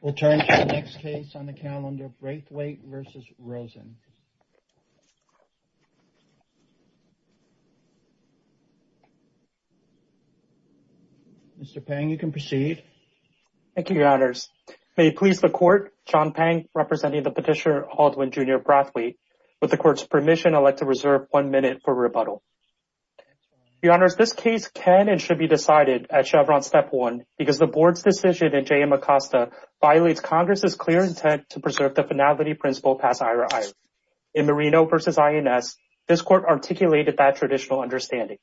We'll turn to the next case on the calendar, Brathwaite v. Rosen. Mr. Pang, you can proceed. Thank you, your honors. May it please the court, John Pang, representing the petitioner, Aldwin Jr. Brathwaite. With the court's permission, I'd like to reserve one minute for rebuttal. Your honors, this case can and should be decided at Chevron Step 1 because the board's decision in Jayam Acosta violates Congress's clear intent to preserve the finality principle pass iris. In Marino v. INS, this court articulated that traditional understanding.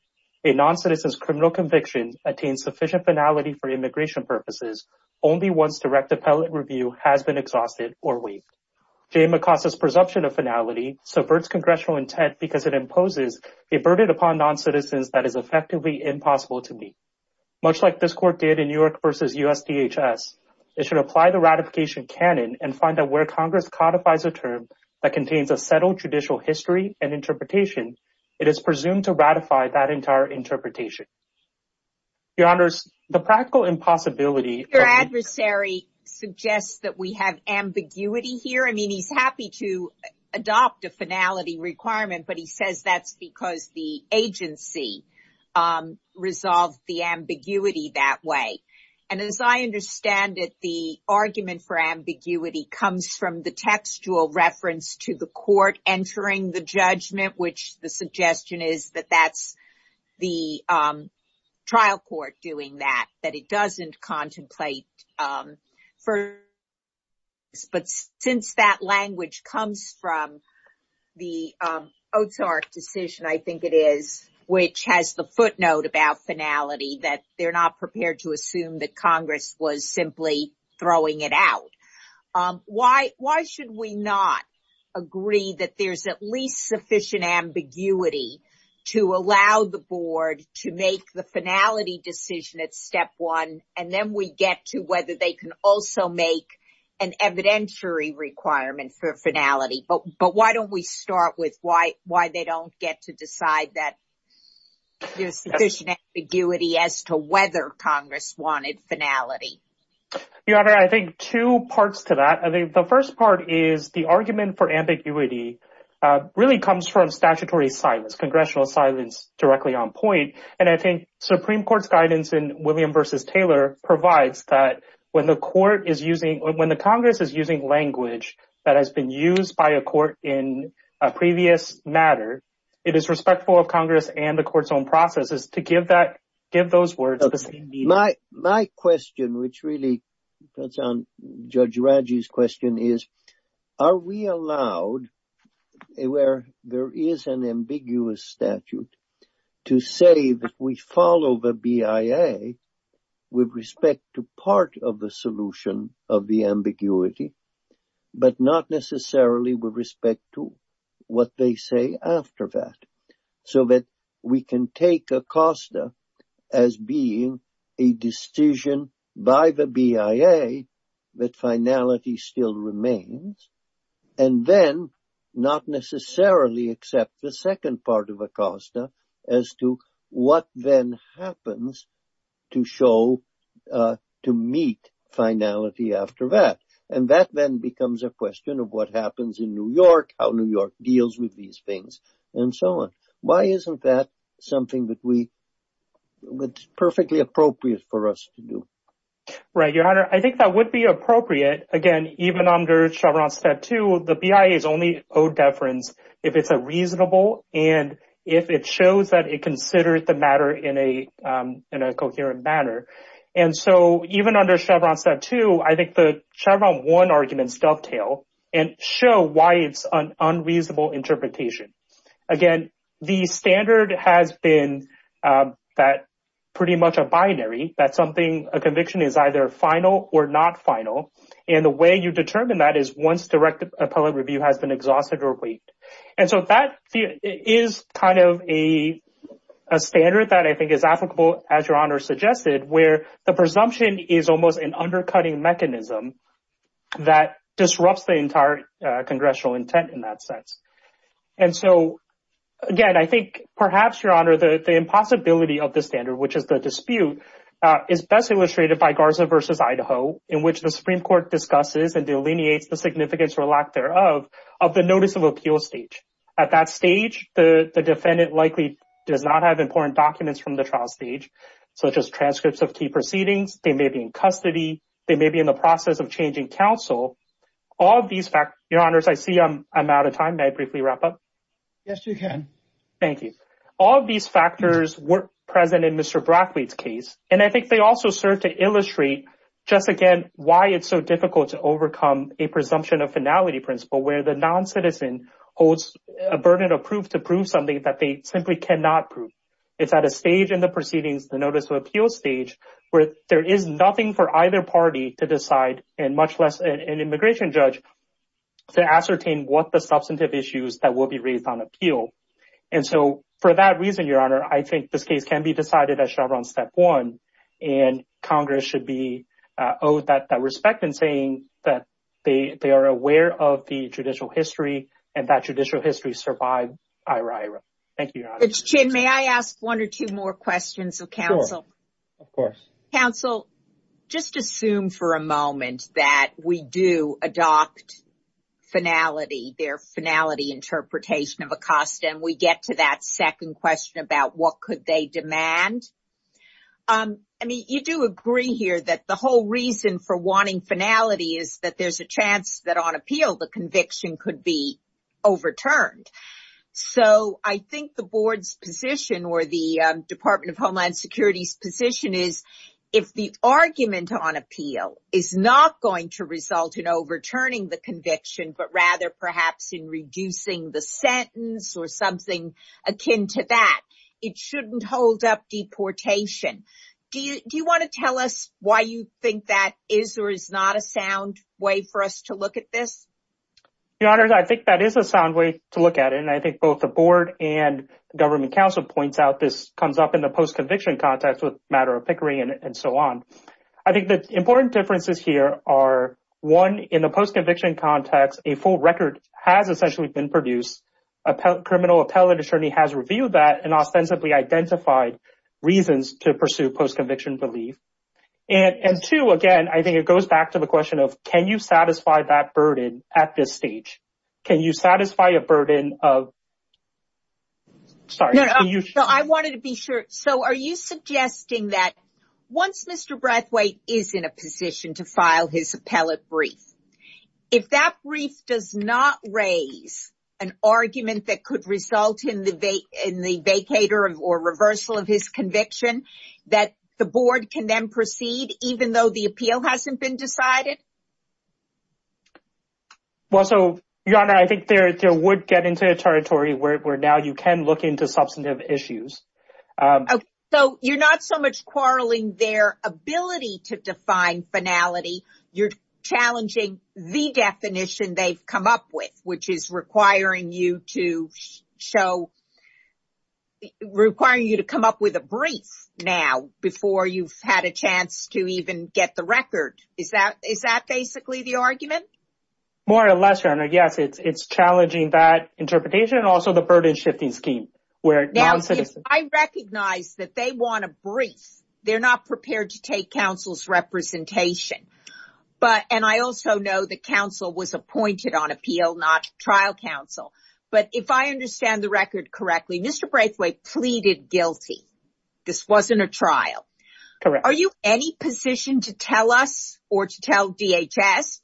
A non-citizen's criminal conviction attains sufficient finality for immigration purposes only once direct appellate review has been exhausted or waived. Jayam Acosta's presumption of finality subverts congressional intent because it imposes a burden upon non-citizens that is effectively impossible to meet. Much like this court did in Newark v. USDHS, it should apply the ratification canon and find out where Congress codifies a term that contains a settled judicial history and interpretation. It is presumed to ratify that entire interpretation. Your honors, the practical impossibility— Your adversary suggests that we have ambiguity here. I mean, he's happy to requirement, but he says that's because the agency resolved the ambiguity that way. And as I understand it, the argument for ambiguity comes from the textual reference to the court entering the judgment, which the suggestion is that that's the trial court doing that, that it doesn't contemplate. But since that language comes from the Ozark decision, I think it is, which has the footnote about finality that they're not prepared to assume that Congress was simply throwing it out. Why should we not agree that there's at least sufficient ambiguity to allow the board to make the finality decision at step one, and then we get to whether they can also make an evidentiary requirement for finality? But why don't we start with why they don't get to decide that there's sufficient ambiguity as to whether Congress wanted finality? Your honor, I think two parts to that. I think the first part is the argument for ambiguity really comes from statutory silence, congressional silence directly on point. And I think Supreme Court's guidance in William v. Taylor provides that when the Congress is using language that has been used by a court in a previous matter, it is respectful of Congress and the court's own processes to give those words the same meaning. My question, which really cuts on Judge Raji's question, is are we allowed, where there is an ambiguous statute, to say that we follow the BIA with respect to part of the solution of the ambiguity, but not necessarily with respect to what they say after that, so that we can take Acosta as being a decision by the BIA that finality still remains, and then not necessarily accept the second part of Acosta as to what then happens to show, to meet finality after that. And that then becomes a question of what happens in New York, how New York deals with these things, and so on. Why isn't that something that's perfectly appropriate for us to do? Right, Your Honor. I think that would be appropriate. Again, even under Chevron Statute, the BIA is only owed deference if it's reasonable and if it shows that it considered the matter in a coherent manner. And so even under Chevron Statute, I think the unreasonable interpretation. Again, the standard has been that pretty much a binary, that something, a conviction is either final or not final. And the way you determine that is once direct appellate review has been exhausted or waived. And so that is kind of a standard that I think is applicable, as Your Honor suggested, where the presumption is almost an undercutting mechanism that disrupts the entire congressional intent in that sense. And so again, I think perhaps, Your Honor, the impossibility of the standard, which is the dispute, is best illustrated by Garza v. Idaho, in which the Supreme Court discusses and delineates the significance or lack thereof of the notice of appeal stage. At that stage, the defendant likely does not have important documents from the trial stage, such as transcripts of key proceedings. They may be in custody. They may be in the process of changing counsel. All of these factors, Your Honors, I see I'm out of time. May I briefly wrap up? Yes, you can. Thank you. All of these factors were present in Mr. Brackley's case. And I think they also serve to illustrate, just again, why it's so difficult to overcome a presumption of finality principle, where the non-citizen holds a burden of proof to prove something that they simply cannot prove. It's at a stage in the proceedings, the notice of appeal stage, where there is nothing for either party to decide, and much less an immigration judge, to ascertain what the substantive issues that will be raised on appeal. And so, for that reason, Your Honor, I think this case can be decided at Chevron Step 1. And Congress should be owed that respect in saying that they are aware of the judicial history, and that judicial history survived IRA, IRA. Thank you, Your Honors. But, Jim, may I ask one or two more questions of counsel? Sure. Of course. Counsel, just assume for a moment that we do adopt finality, their finality interpretation of a cost, and we get to that second question about what could they demand. I mean, you do agree here that the whole reason for wanting finality is that there's a chance that on appeal the conviction could be overturned. So, I think the Board's position, or the Department of Homeland Security's position, is if the argument on appeal is not going to result in overturning the conviction, but rather perhaps in reducing the sentence or something akin to that, it shouldn't hold up deportation. Do you want to tell us why you think that is or is not a sound way for us to look at this? Your Honors, I think that is a sound way to look at it, and I think both the Board and Government Counsel points out this comes up in the post-conviction context with matter of pickering and so on. I think the important differences here are, one, in the post-conviction context, a full record has essentially been produced. A criminal appellate attorney has reviewed that and ostensibly identified reasons to pursue post-conviction belief. And two, again, I think it goes back to the question of can you satisfy that burden at this stage? Can you satisfy a burden of... Sorry. No, I wanted to be sure. So, are you suggesting that once Mr. Brathwaite is in a position to file his appellate brief, if that brief does not raise an argument that could result in the vacater or reversal of his conviction, that the Board can then proceed even though the appeal hasn't been decided? Well, so, Your Honor, I think there would get into a territory where now you can look into substantive issues. So, you're not so much quarreling their ability to define finality, you're challenging the definition they've come up with, which is requiring you to show... Requiring you to come up with a brief now before you've had a chance to even get the record. Is that basically the argument? More or less, Your Honor. Yes, it's challenging that interpretation and also the burden-shifting scheme where non-citizens... Now, if I recognize that they want a brief, they're not prepared to take counsel's representation. And I also know that counsel was appointed on appeal, not trial counsel. But if I understand the record correctly, Mr. Brathwaite pleaded guilty. This wasn't a trial. Correct. Are you in any position to tell us or to tell DHS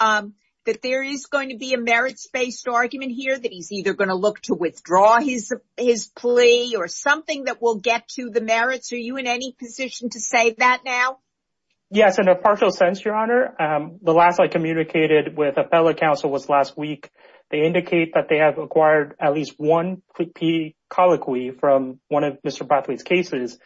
that there is going to be a merits-based argument here, that he's either going to look to withdraw his plea or something that will get to the merits? Are you in any with appellate counsel was last week. They indicate that they have acquired at least one plea colloquy from one of Mr. Brathwaite's cases.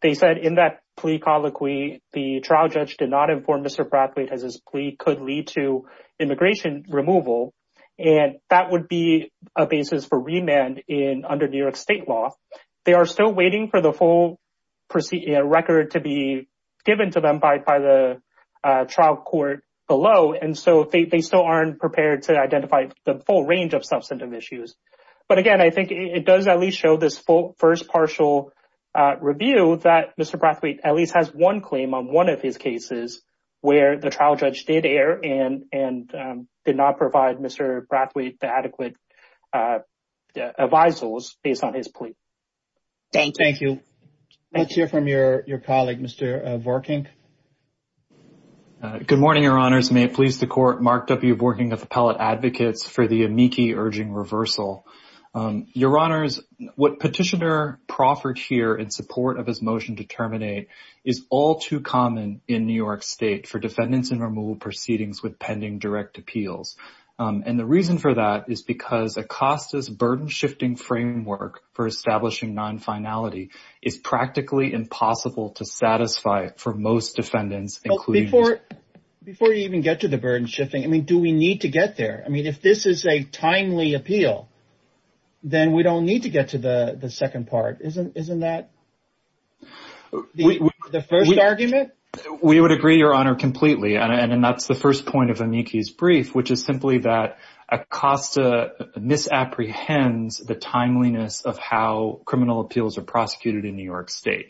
They said in that plea colloquy, the trial judge did not inform Mr. Brathwaite as his plea could lead to immigration removal. And that would be a basis for remand under New York State law. They are still waiting for the full record to be given to them by the trial court below. And so they still aren't prepared to identify the full range of substantive issues. But again, I think it does at least show this first partial review that Mr. Brathwaite at least has one claim on one of his cases where the trial judge did err and did not provide Mr. Brathwaite the adequate advisers based on his plea. Thank you. Let's hear from your colleague, Mr. Vorkink. Good morning, Your Honors. May it please the Court, Mark W. Vorkink of Appellate Advocates for the amici urging reversal. Your Honors, what Petitioner proffered here in support of his motion to terminate is all too common in New York State for defendants in removal proceedings with Acosta's burden-shifting framework for establishing non-finality is practically impossible to satisfy for most defendants. Before you even get to the burden-shifting, I mean, do we need to get there? I mean, if this is a timely appeal, then we don't need to get to the second part. Isn't that the first argument? We would agree, Your Honor, completely. And that's the first point of amici's brief, which is simply that Acosta misapprehends the timeliness of how criminal appeals are prosecuted in New York State,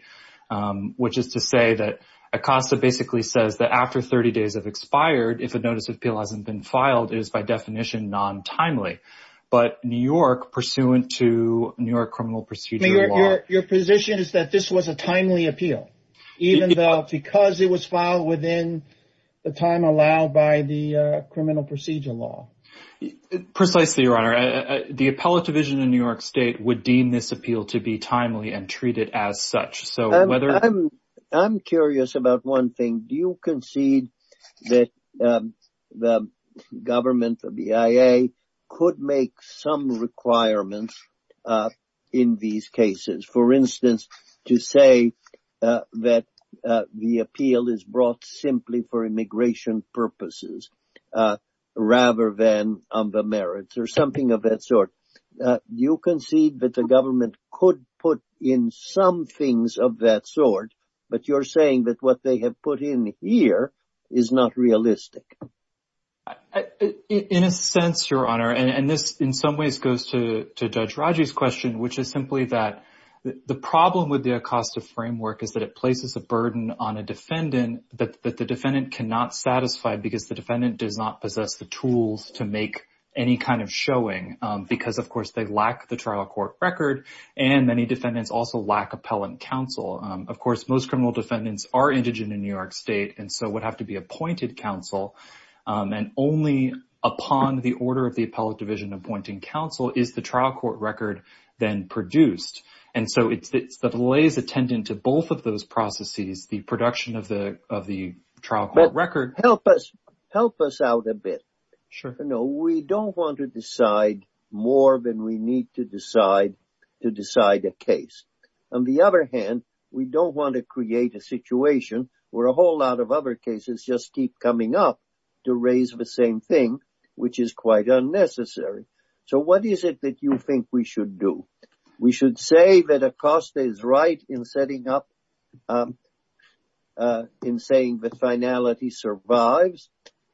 which is to say that Acosta basically says that after 30 days have expired, if a notice of appeal hasn't been filed, it is by definition non-timely. But New York, pursuant to New York criminal procedure law... Your position is that this was a timely appeal, even though because it was filed within the time allowed by the criminal procedure law. Precisely, Your Honor. The appellate division in New York State would deem this appeal to be timely and treat it as such. So whether... I'm curious about one thing. Do you concede that the government, the BIA, could make some requirements in these cases? For instance, to say that the appeal is brought simply for immigration purposes rather than on the merits or something of that sort. Do you concede that the government could put in some things of that sort, but you're saying that what they have put in here is not realistic? In a sense, Your Honor, and this in some ways goes to Judge Raji's question, which is simply that the problem with the ACOSTA framework is that it places a burden on a defendant that the defendant cannot satisfy because the defendant does not possess the tools to make any kind of showing, because, of course, they lack the trial court record, and many defendants also lack appellate counsel. Of course, most criminal defendants are indigent in New York State and so would have to be appointed counsel, and only upon the order of the appellate division appointing counsel is the delay is attendant to both of those processes, the production of the trial court record. Help us out a bit. We don't want to decide more than we need to decide to decide a case. On the other hand, we don't want to create a situation where a whole lot of other cases just keep coming up to raise the same thing, which is quite unnecessary. So what is it that you think we should do? We should say that ACOSTA is right in setting up, in saying that finality survives,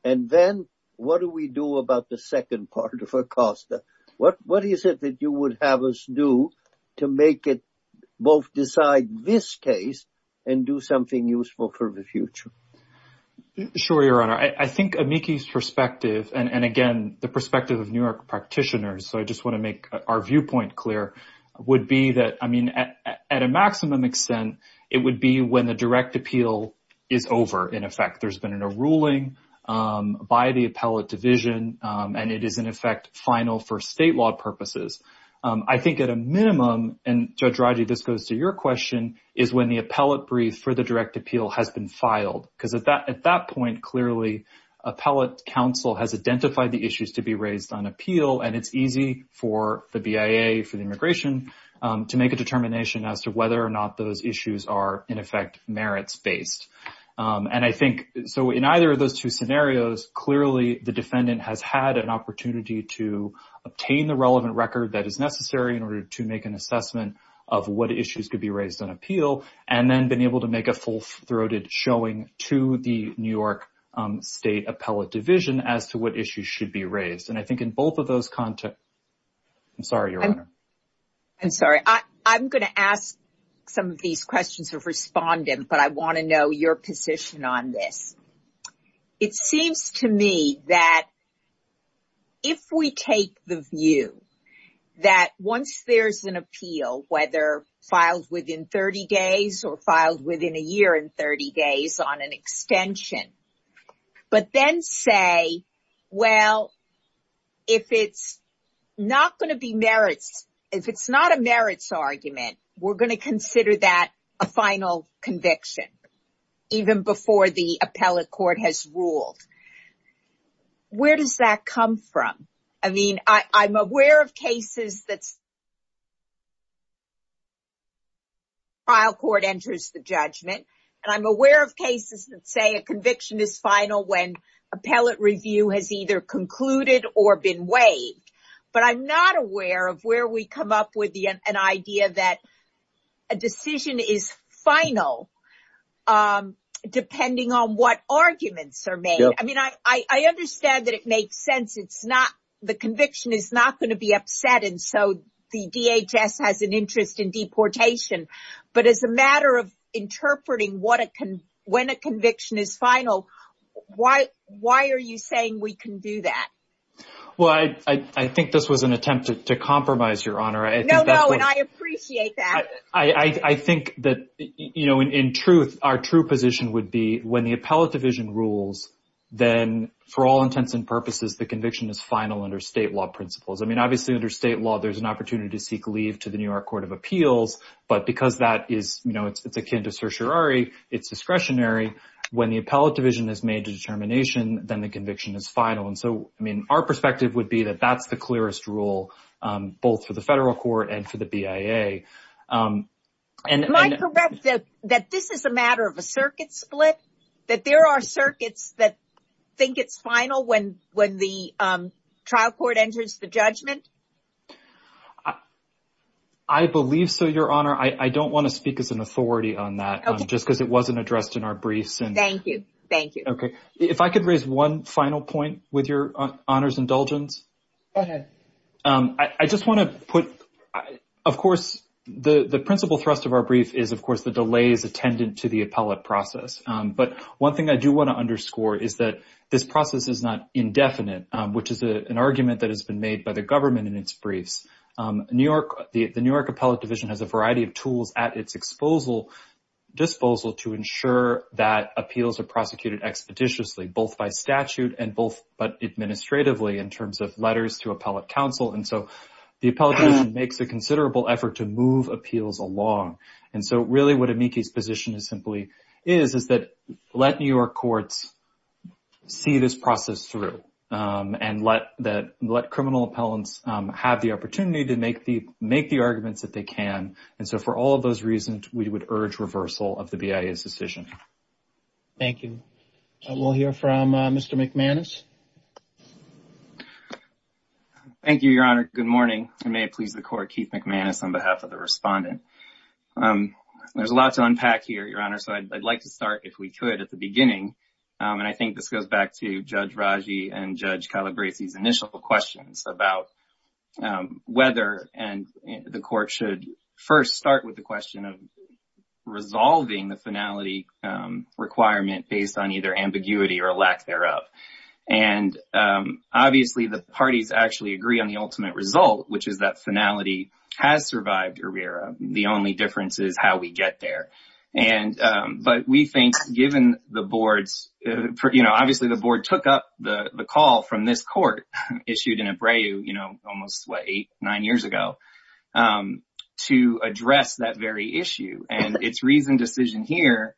and then what do we do about the second part of ACOSTA? What is it that you would have us do to make it both decide this case and do something useful for the future? Sure, Your Honor. I think Amiki's perspective, and again, the perspective of New York practitioners, so I just want to make our viewpoint clear, would be that, I mean, at a maximum extent, it would be when the direct appeal is over, in effect. There's been a ruling by the appellate division, and it is, in effect, final for state law purposes. I think at a minimum, and Judge Raji, this goes to your question, is when the appellate brief for the direct appeal has been filed, because at that point, clearly, appellate counsel has identified the issues to be raised on appeal, and it's easy for the BIA, for the immigration, to make a determination as to whether or not those issues are, in effect, merits-based. And I think, so in either of those two scenarios, clearly, the defendant has had an opportunity to obtain the relevant record that is necessary in order to make an assessment of what issues could be raised on appeal, and then been able to make a full-throated showing to the New York State Appellate Division as to what issues should be raised. And I think in both of those contexts, I'm sorry, Your Honor. I'm sorry. I'm going to ask some of these questions of respondent, but I want to know your position on this. It seems to me that if we take the view that once there's an appeal, whether filed within 30 days or filed within a year and 30 days on an extension, but then say, well, if it's not going to be merits, if it's not a merits argument, we're going to consider that a final conviction, even before the appellate court has ruled. Where does that come from? I mean, I'm aware of cases that's when the trial court enters the judgment. And I'm aware of cases that say a conviction is final when appellate review has either concluded or been waived. But I'm not aware of where we come up with an idea that a decision is final, depending on what arguments are made. I mean, I understand that it makes sense. It's not the conviction is not going to be upset. And so the DHS has an interest in deportation. But as a matter of interpreting when a conviction is final, why are you saying we can do that? Well, I think this was an attempt to compromise, Your Honor. No, no. And I appreciate that. I think that in truth, our true position would be when the appellate division rules, then for all intents and purposes, the conviction is final under state law principles. I mean, obviously, under state law, there's an opportunity to seek leave to the New York Court of Appeals. But because that is, you know, it's akin to certiorari, it's discretionary. When the appellate division has made a determination, then the conviction is final. And so, I mean, our perspective would be that that's the clearest rule, both for the federal court and for the BIA. Am I correct that this is a matter of a circuit split? That there are circuits that think it's final when the trial court enters the judgment? I believe so, Your Honor. I don't want to speak as an authority on that, just because it wasn't addressed in our briefs. Thank you. Thank you. Okay. If I could raise one final point with Your Honor's indulgence. Go ahead. I just want to put, of course, the principal thrust of our brief is, of course, the delays attendant to the appellate process. But one thing I do want to underscore is that this process is not indefinite, which is an argument that has been made by the government in its briefs. The New York appellate division has a variety of tools at its disposal to ensure that appeals are prosecuted expeditiously, both by statute and both administratively, in terms of letters to appellate counsel. And so, the appellate division makes a considerable effort to move appeals along. And so, really, what Amici's position is, is that let New York courts see this process through and let criminal appellants have the opportunity to make the arguments that they can. And so, for all of those reasons, we would urge reversal of the BIA's decision. Thank you. We'll hear from Mr. McManus. Thank you, Your Honor. Good morning. And may it please the court, Keith McManus, on behalf of the respondent. There's a lot to unpack here, Your Honor, so I'd like to start, if we could, at the beginning. And I think this goes back to Judge Raji and Judge Calabresi's initial questions about whether the court should first start with the question of resolving the finality requirement based on either ambiguity or lack thereof. And obviously, the parties actually agree on the ultimate result, which is that finality has survived ERIRA. The only difference is how we get there. But we think, given the board's — you know, obviously, the board took up the call from this court, issued in Ebreu, you know, almost, what, eight, nine years ago, to address that very issue. And its reasoned decision here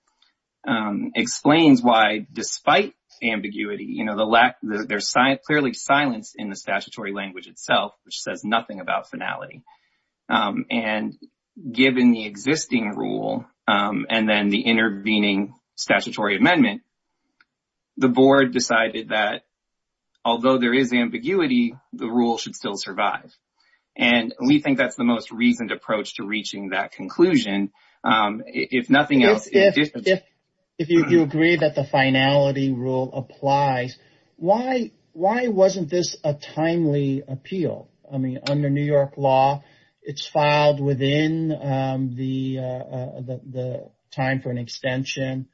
explains why, despite ambiguity, you know, the lack — there's clearly silence in the statutory language itself, which says nothing about finality. And given the existing rule and then the intervening statutory amendment, the board decided that, although there is ambiguity, the rule should still survive. And we think that's the most reasoned approach to reaching that conclusion. If nothing else — If you agree that the finality rule applies, why wasn't this a timely appeal? I mean, under New York law, it's filed within the time for an extension.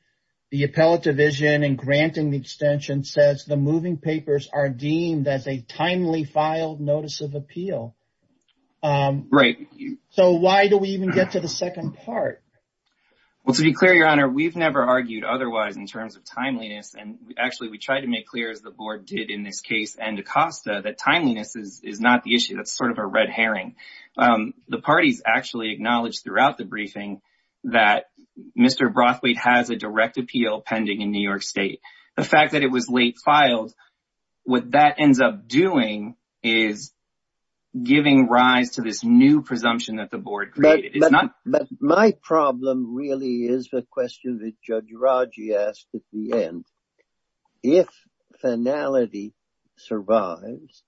The appellate division in granting the extension says the moving papers are deemed as a timely filed notice of appeal. Right. So why do we even get to the second part? Well, to be clear, Your Honor, we've never argued otherwise in terms of timeliness. And actually, we try to make clear, as the board did in this case and Acosta, that timeliness is not the issue. That's sort of a red herring. The parties actually acknowledged throughout the briefing that Mr. Brothwaite has a direct appeal pending in New York State. The fact that it was late filed, what that ends up doing is giving rise to this new presumption that the board created. But my problem really is the question that Judge Raji asked at the end. If finality survives,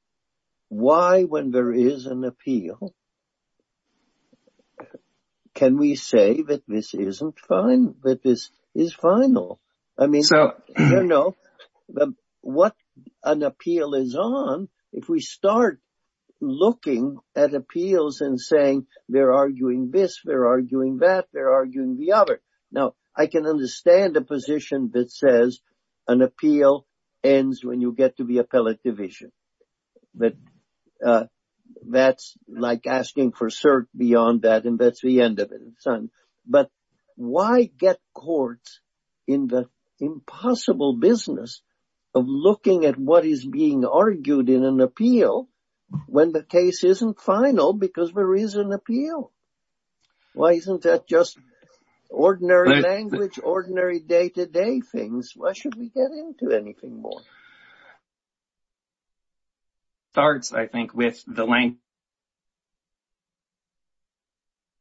why, when there is an appeal, can we say that this isn't final, that this is final? I mean, you know, what an appeal is on, if we start looking at appeals and saying they're arguing this, they're arguing that, they're arguing the other. Now, I can understand a position that says an appeal ends when you get to asking for cert beyond that, and that's the end of it. But why get courts in the impossible business of looking at what is being argued in an appeal when the case isn't final because there is an appeal? Why isn't that just ordinary language, ordinary day-to-day things? Why should we get to a point where we can say, you know, if there was a pending appeal, the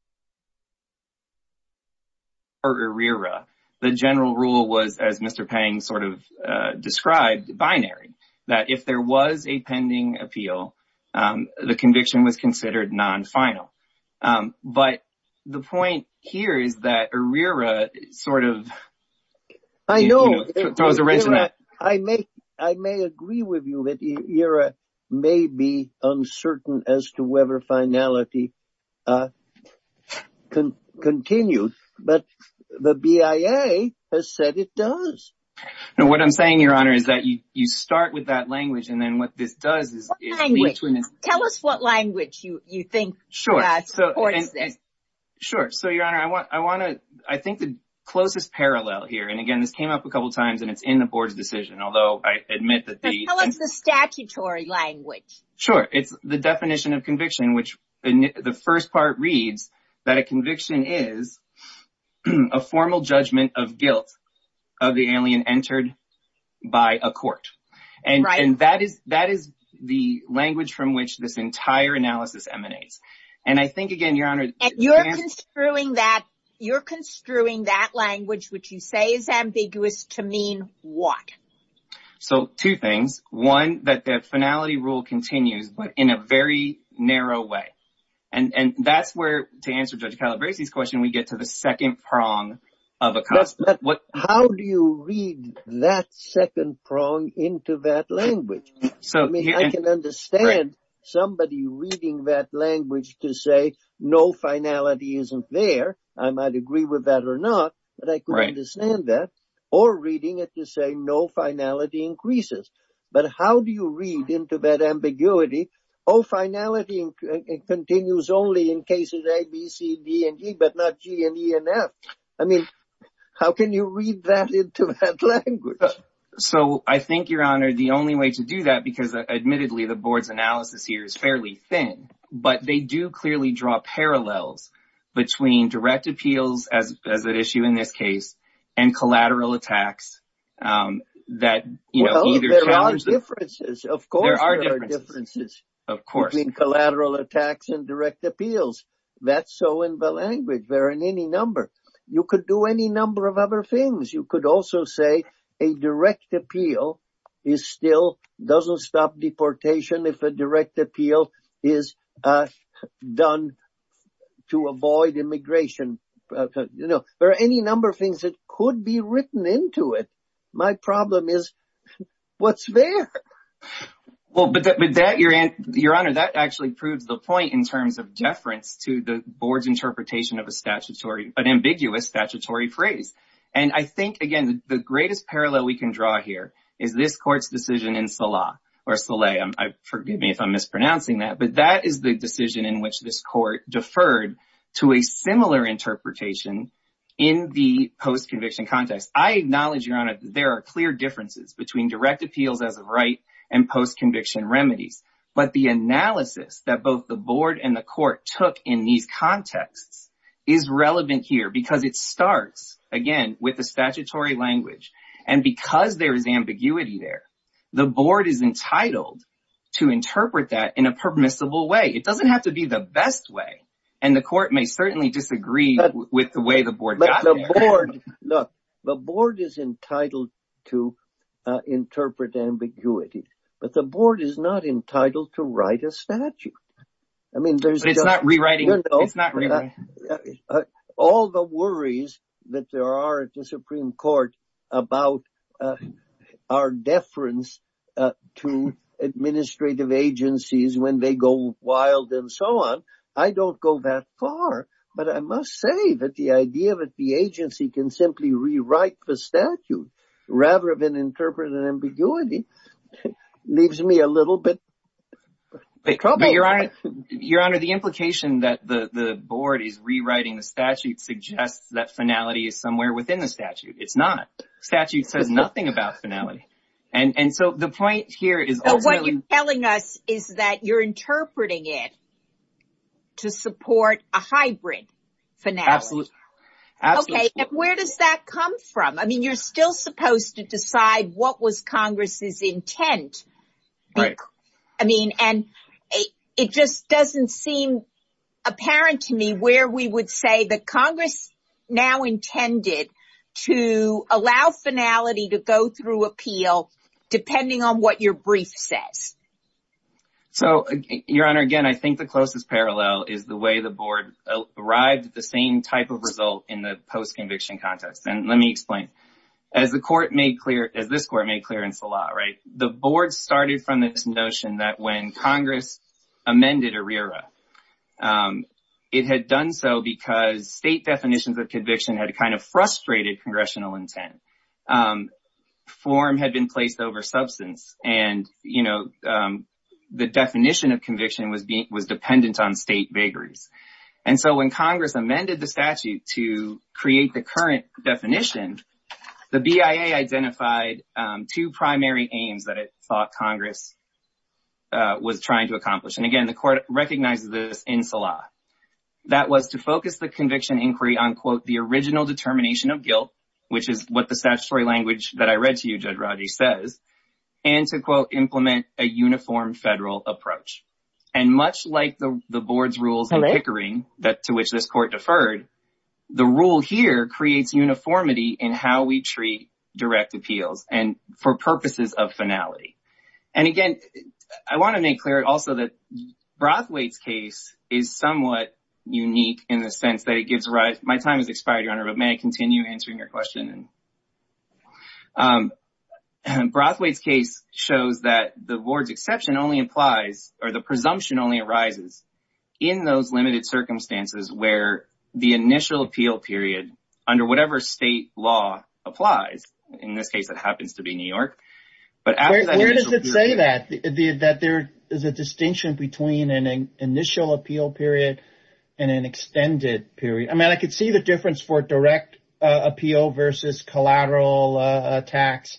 conviction was considered non-final. The general rule was, as Mr. Pang sort of described, binary, that if there was a pending appeal, the conviction was considered non-final. But the point here is that IRERA sort of throws a wrench in that. I may agree with you that IRERA may be uncertain as to whether finality continues, but the BIA has said it does. Now, what I'm saying, Your Honor, is that you start with that language, and then what this does is... Tell us what language you think supports this. Sure. So, Your Honor, I want to... I think the closest parallel here, and again, this came up a couple times, and it's in the Board's decision, although I admit that the... Tell us the statutory language. Sure. It's the definition of conviction, which the first part reads that a conviction is a formal judgment of guilt of the alien entered by a court. And that is the entire analysis emanates. And I think, again, Your Honor... And you're construing that language, which you say is ambiguous, to mean what? So, two things. One, that the finality rule continues, but in a very narrow way. And that's where, to answer Judge Calabresi's question, we get to the second prong of a... But how do you read that second prong into that language? I mean, I can understand somebody reading that language to say, no, finality isn't there. I might agree with that or not, but I can understand that. Or reading it to say, no, finality increases. But how do you read into that ambiguity? Oh, finality continues only in cases A, B, C, D, and E, but not G, and E, and F. I mean, how can you read that into that language? So, I think, Your Honor, the only way to do that, because, admittedly, the board's analysis here is fairly thin, but they do clearly draw parallels between direct appeals, as an issue in this case, and collateral attacks that, you know... Well, there are differences. Of course, there are differences between collateral attacks and direct appeals. That's so in the language. They're in any number. You could do any number of other things. You could also say a direct appeal still doesn't stop deportation if a direct appeal is done to avoid immigration. You know, there are any number of things that could be written into it. My problem is, what's there? Well, but Your Honor, that actually proves the point in terms of deference to the board's interpretation of an ambiguous statutory phrase. And I think, again, the greatest parallel we can draw here is this court's decision in Salah, or Saleh. Forgive me if I'm mispronouncing that, but that is the decision in which this court deferred to a similar interpretation in the post-conviction context. I acknowledge, Your Honor, there are clear differences between direct appeals as a right and post-conviction remedies, but the analysis that both the board and the court took in these contexts is relevant here, because it starts, again, with the statutory language. And because there is ambiguity there, the board is entitled to interpret that in a permissible way. It doesn't have to be the best way, and the court may certainly disagree with the way the board got there. Look, the board is entitled to interpret ambiguity, but the board is not entitled to worries that there are at the Supreme Court about our deference to administrative agencies when they go wild and so on. I don't go that far, but I must say that the idea that the agency can simply rewrite the statute rather than interpret an ambiguity leaves me a little bit troubled. Your Honor, the implication that the board is rewriting the statute suggests that finality is somewhere within the statute. It's not. The statute says nothing about finality. What you're telling us is that you're interpreting it to support a hybrid finale. Absolutely. Where does that come from? You're still supposed to decide what was Congress's intent. It just doesn't seem apparent to me where we would say that Congress now intended to allow finality to go through appeal, depending on what your brief says. So, Your Honor, again, I think the closest parallel is the way the board arrived at the same type of result in the post-conviction context. And let me explain. As this court made clearance a lot, the board started from this notion that when Congress amended ERIRA, it had done so because state definitions of conviction had kind of frustrated congressional intent. Form had been placed over substance, and the definition of conviction was dependent on state vagaries. And so when Congress amended the statute to create the current definition, the BIA identified two primary aims that it thought Congress was trying to accomplish. Again, the court recognizes this in Salah. That was to focus the conviction inquiry on the original determination of guilt, which is what the statutory language that I read to you, Judge Rodgers, says, and to, quote, implement a uniform federal approach. And much like the board's rules in Pickering, to which this court deferred, the rule here creates uniformity in how we treat direct appeals and for purposes of finality. And again, I want to make clear also that Brathwaite's case is somewhat unique in the sense that it gives rise—my time has expired, Your Honor, but may I continue answering your question? Brathwaite's case shows that the board's exception only applies, or the presumption only arises, in those limited circumstances where the initial appeal period under whatever state law applies. In this case, it happens to be New York. Where does it say that? That there is a distinction between an initial appeal period and an extended period? I mean, I could see the difference for direct appeal versus collateral tax.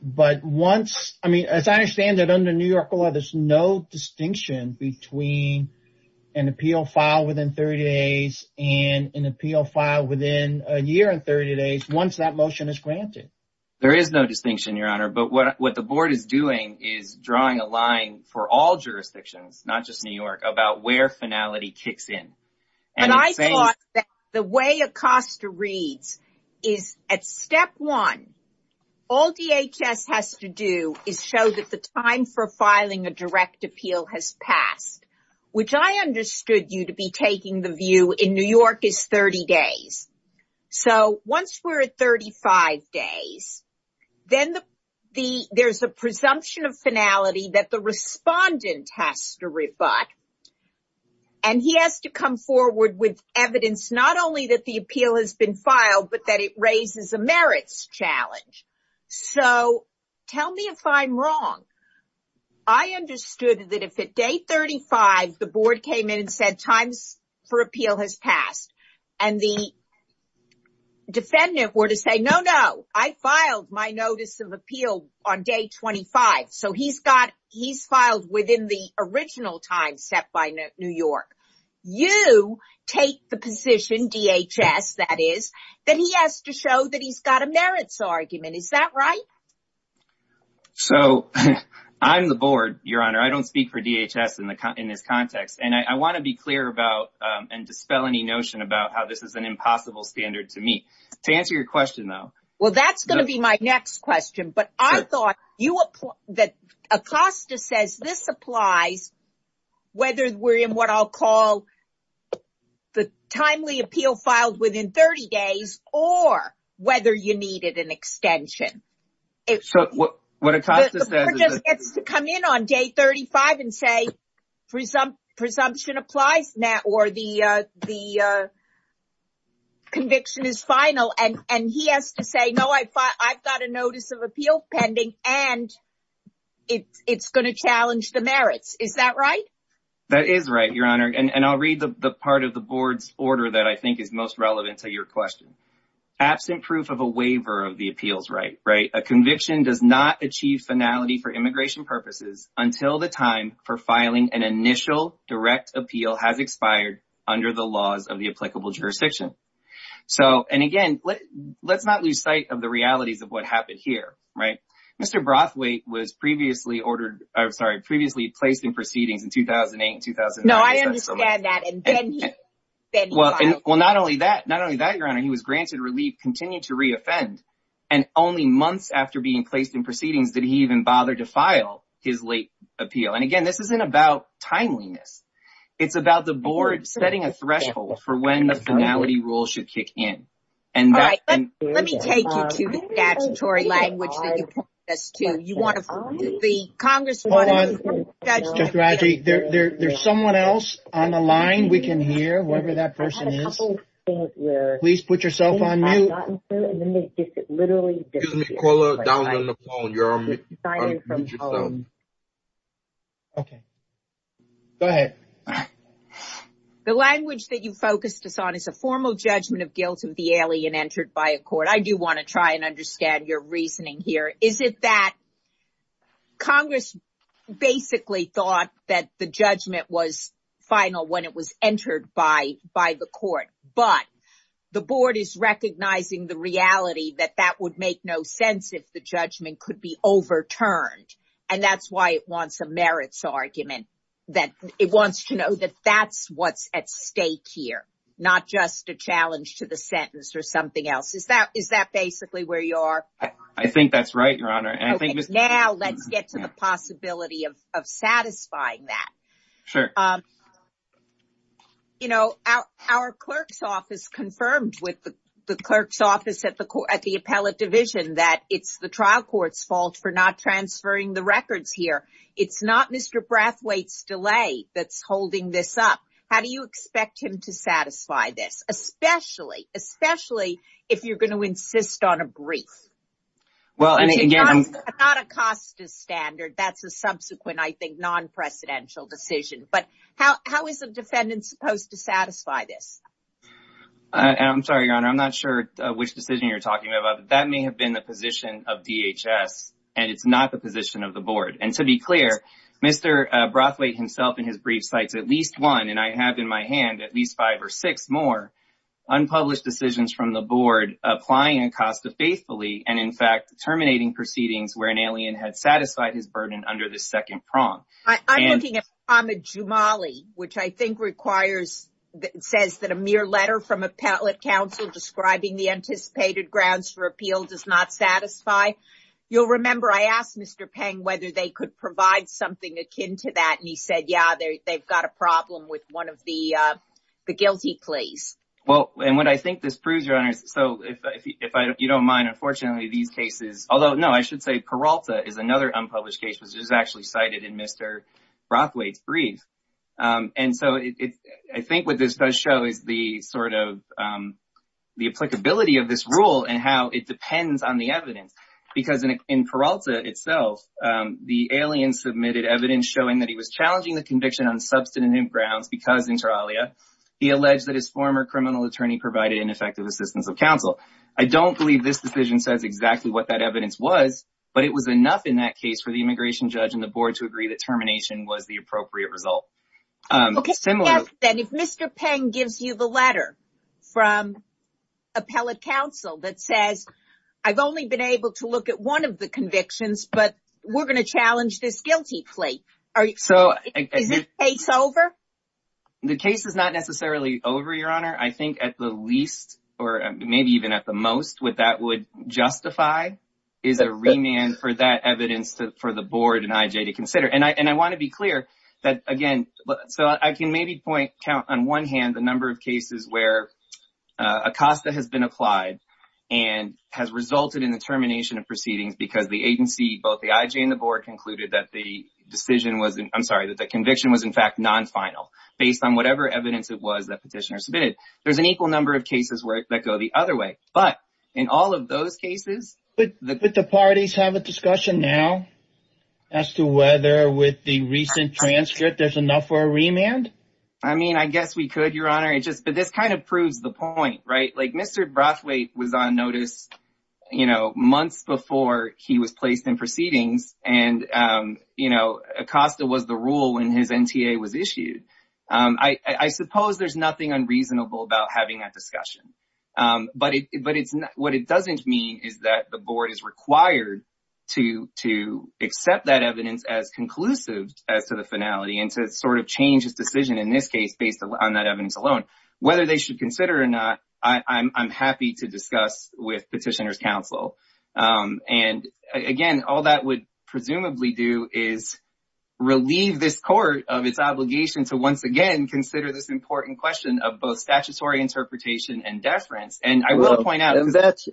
But once—I mean, as I understand it, under New York law, there's no distinction between an appeal filed within 30 days and an appeal filed within a year and 30 days once that motion is granted. There is no distinction, Your Honor, but what the board is doing is drawing a line for all jurisdictions, not just New York, about where finality kicks in. And I thought that the way Acosta reads is at step one, all DHS has to do is show that the time for filing a direct appeal has passed, which I understood you to be taking the view in New York is 30 days. So once we're at 35 days, then there's a presumption of finality that the respondent has to rebut. And he has to come forward with evidence not only that the appeal has been I understood that if at day 35, the board came in and said times for appeal has passed, and the defendant were to say, no, no, I filed my notice of appeal on day 25. So he's got—he's filed within the original time set by New York. You take the position, DHS, that is, that he has to show that he's got a merits argument. Is that right? So I'm the board, Your Honor. I don't speak for DHS in this context. And I want to be clear about and dispel any notion about how this is an impossible standard to me. To answer your question, though— Well, that's going to be my next question. But I thought that Acosta says this applies whether we're in what I'll call the timely appeal filed within 30 days or whether you needed an extension. So what Acosta says is— The board just gets to come in on day 35 and say, presumption applies, Matt, or the conviction is final. And he has to say, no, I've got a notice of appeal pending, and it's going to challenge the merits. Is that right? That is right, Your Honor. And I'll read the part of the board's order that I think is most relevant to your question. Absent proof of a waiver of the appeals right, a conviction does not achieve finality for immigration purposes until the time for filing an initial direct appeal has expired under the laws of the applicable jurisdiction. So, and again, let's not lose sight of the realities of what happened here. Mr. Brathwaite was previously ordered— I'm sorry, previously placed in proceedings in 2008 and 2009. No, I understand that, and then he filed. Well, not only that, Your Honor, he was granted relief, continued to re-offend, and only months after being placed in proceedings did he even bother to file his late appeal. And again, this isn't about timeliness. It's about the board setting a threshold for when the finality rule should kick in. All right, let me take you to the statutory language that you pointed us to. You want to—the Congresswoman— Hold on, Judge Rajji. There's someone else on the line we can hear, whoever that person is. Please put yourself on mute. Excuse me, Carla, down on the phone. You're on mute yourself. Okay. Go ahead. The language that you focused us on is a formal judgment of guilt of the alien entered by a court. I do want to try and understand your reasoning here. Is it that Congress basically thought that the judgment was final when it was entered by the court, but the board is recognizing the reality that that would make no sense if the judgment could be overturned? And that's why it wants a merits argument, that it wants to know that that's what's at stake here, not just a challenge to the sentence or something else. Is that basically where you are? I think that's right, Your Honor. Okay. Now let's get to the possibility of satisfying that. Our clerk's office confirmed with the clerk's office at the appellate division that it's the trial court's fault for not transferring the records here. It's not Mr. Brathwaite's delay that's holding this up. How do you expect him to satisfy this, especially if you're going to insist on a brief? It's not Acosta's standard. That's a subsequent, I think, non-presidential decision. But how is a defendant supposed to satisfy this? I'm sorry, Your Honor. I'm not sure which decision you're talking about. That may have been the position of DHS, and it's not the position of the board. And to be clear, Mr. Brathwaite himself, in his brief, cites at least one, and I have in my hand at least five or six more, unpublished decisions from the board applying Acosta faithfully and, in fact, terminating proceedings where an alien had satisfied his burden under the second prong. I'm looking at Pramod Jumali, which I think requires, says that a mere letter from appellate counsel describing the anticipated grounds for appeal does not satisfy. You'll remember I asked Mr. Peng whether they could provide something akin to that, and he said, yeah, they've got a problem with one of the guilty pleas. Well, and what I think this proves, Your Honor, so if you don't mind, unfortunately, these cases, although no, I should say Peralta is another unpublished case, which is actually cited in Mr. Brathwaite's brief. And so I think what this does show is the sort of the applicability of this rule and how it depends on the evidence, because in Peralta itself, the alien submitted evidence showing that he was challenging the conviction on substantive grounds because, inter alia, he alleged that his former criminal attorney provided ineffective assistance of counsel. I don't believe this decision says exactly what that evidence was, but it was enough in that case for the immigration judge and the board to agree that termination was the appropriate result. Okay, so yes, then, if Mr. Peng gives you the letter from appellate counsel that says, I've only been able to look at one of the convictions, but we're going to challenge this guilty plea, is this case over? The case is not necessarily over, Your Honor. I think at the least, or maybe even at the most, what that would justify is a remand for that evidence for the board and IJ to consider. And ACOSTA has been applied and has resulted in the termination of proceedings because the agency, both the IJ and the board, concluded that the decision was, I'm sorry, that the conviction was in fact non-final based on whatever evidence it was that petitioner submitted. There's an equal number of cases that go the other way, but in all of those cases... But the parties have a discussion now as to whether with the recent transcript there's enough for a remand? I mean, I guess we could, but this kind of proves the point, right? Mr. Brathwaite was on notice months before he was placed in proceedings and ACOSTA was the rule when his NTA was issued. I suppose there's nothing unreasonable about having that discussion, but what it doesn't mean is that the board is required to accept that evidence as conclusive as to the finality and to sort of change its decision in this case based on that evidence alone. Whether they should consider it or not, I'm happy to discuss with petitioners' counsel. And again, all that would presumably do is relieve this court of its obligation to once again consider this important question of both statutory interpretation and deference. And I will point out... And that's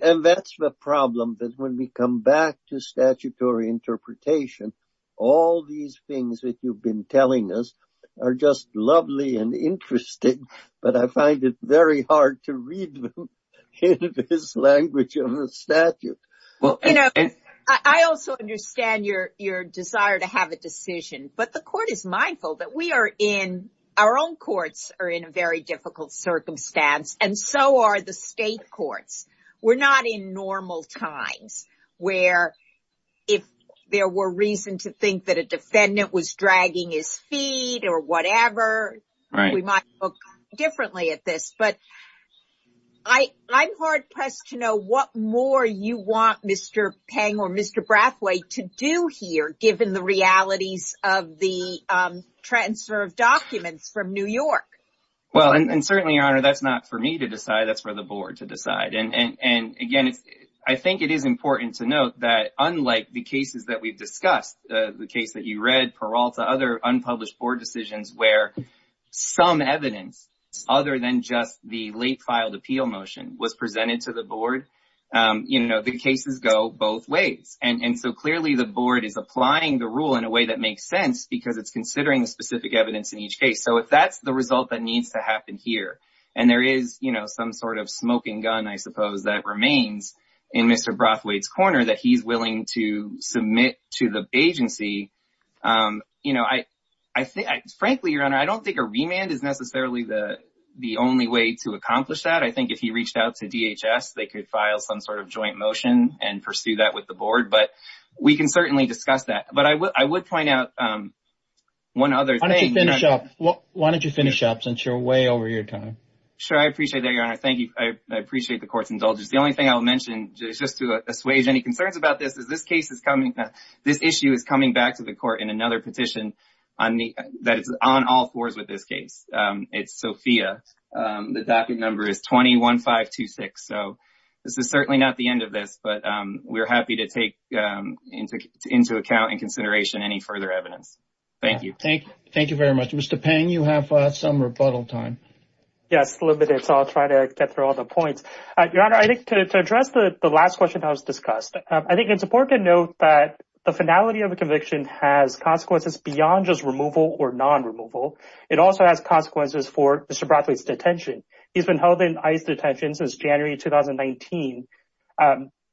the problem, that when we come to statutory interpretation, all these things that you've been telling us are just lovely and interesting, but I find it very hard to read them in this language of the statute. I also understand your desire to have a decision, but the court is mindful that we are in... Our own courts are in a very difficult circumstance, and so are the state courts. We're not in normal times where, if there were reason to think that a defendant was dragging his feet or whatever, we might look differently at this. But I'm hard-pressed to know what more you want Mr. Peng or Mr. Brathwaite to do here, given the realities of the transfer of documents from New York. Well, and certainly, Your Honor, that's not for me to decide, that's for the board to decide. And again, I think it is important to note that unlike the cases that we've discussed, the case that you read, Peralta, other unpublished board decisions where some evidence other than just the late filed appeal motion was presented to the board, the cases go both ways. And so clearly the board is applying the rule in a way that makes sense because it's considering the specific evidence in each case. So if that's the case, and there is some sort of smoking gun, I suppose, that remains in Mr. Brathwaite's corner that he's willing to submit to the agency, frankly, Your Honor, I don't think a remand is necessarily the only way to accomplish that. I think if he reached out to DHS, they could file some sort of joint motion and pursue that with the board, but we can certainly discuss that. But I would point out one other thing... Why don't you finish up, since you're way over your time? I appreciate that, Your Honor. Thank you. I appreciate the court's indulgence. The only thing I'll mention, just to assuage any concerns about this, is this issue is coming back to the court in another petition that is on all fours with this case. It's Sophia. The docket number is 20-1526. So this is certainly not the end of this, but we're happy to take into account and consideration any further evidence. Thank you. Thank you very much. Mr. Peng, you have some rebuttal time. Yes, limited, so I'll try to get through all the points. Your Honor, I think to address the last question that was discussed, I think it's important to note that the finality of a conviction has consequences beyond just removal or non-removal. It also has consequences for Mr. Brathwaite's detention. He's been held in ICE detention since January 2019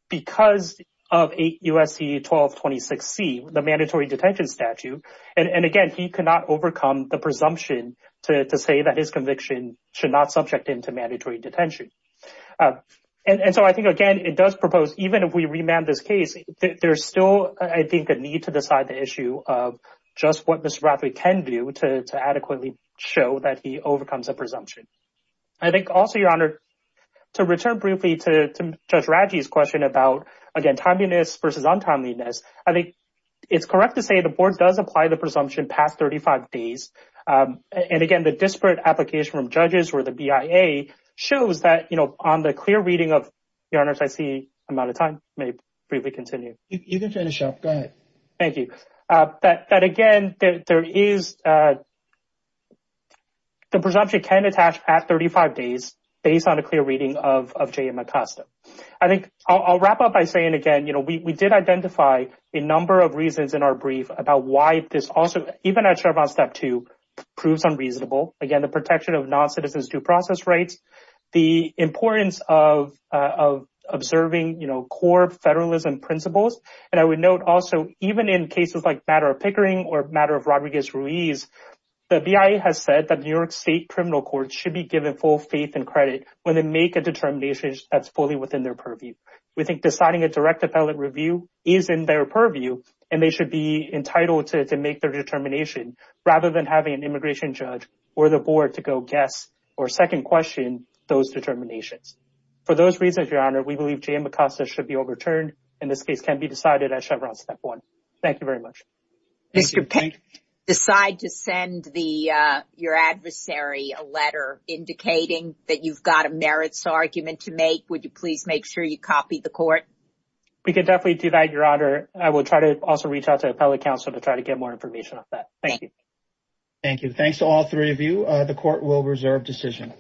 because of 8 U.S.C. 1226C, the mandatory detention statute. And again, he could not overcome the presumption to say that his conviction should not subject him to mandatory detention. And so I think, again, it does propose, even if we remand this case, there's still, I think, a need to decide the issue of just what Mr. Brathwaite can do to adequately show that he overcomes a presumption. I think also, Your Honor, to return briefly to Judge Radji's question about, again, timeliness versus untimeliness, I think it's correct to say the presumption passed 35 days. And again, the disparate application from judges or the BIA shows that on the clear reading of, Your Honor, I see I'm out of time. May I briefly continue? You can finish up. Go ahead. Thank you. That again, the presumption can attach past 35 days based on a clear reading of J.M. Acosta. I'll wrap up by saying, again, we did identify a number of reasons in our brief about why this also, even at Chevron Step 2, proves unreasonable. Again, the protection of non-citizens due process rights, the importance of observing core federalism principles. And I would note also, even in cases like matter of Pickering or matter of Rodriguez-Ruiz, the BIA has said that New York State criminal courts should be given full faith and credit when they make a determination that's fully within their purview. We think deciding a direct appellate review is in their purview, and they should be entitled to make their determination rather than having an immigration judge or the board to go guess or second question those determinations. For those reasons, Your Honor, we believe J.M. Acosta should be overturned, and this case can be decided at Chevron Step 1. Thank you very much. Mr. Peck, decide to send your adversary a letter indicating that you've got a merits argument to make. Would you please make sure you copy the court? We can definitely do that, Your Honor. I will try to also reach out to appellate counsel to try to get more information on that. Thank you. Thank you. Thanks to all three of you. The court will reserve decision.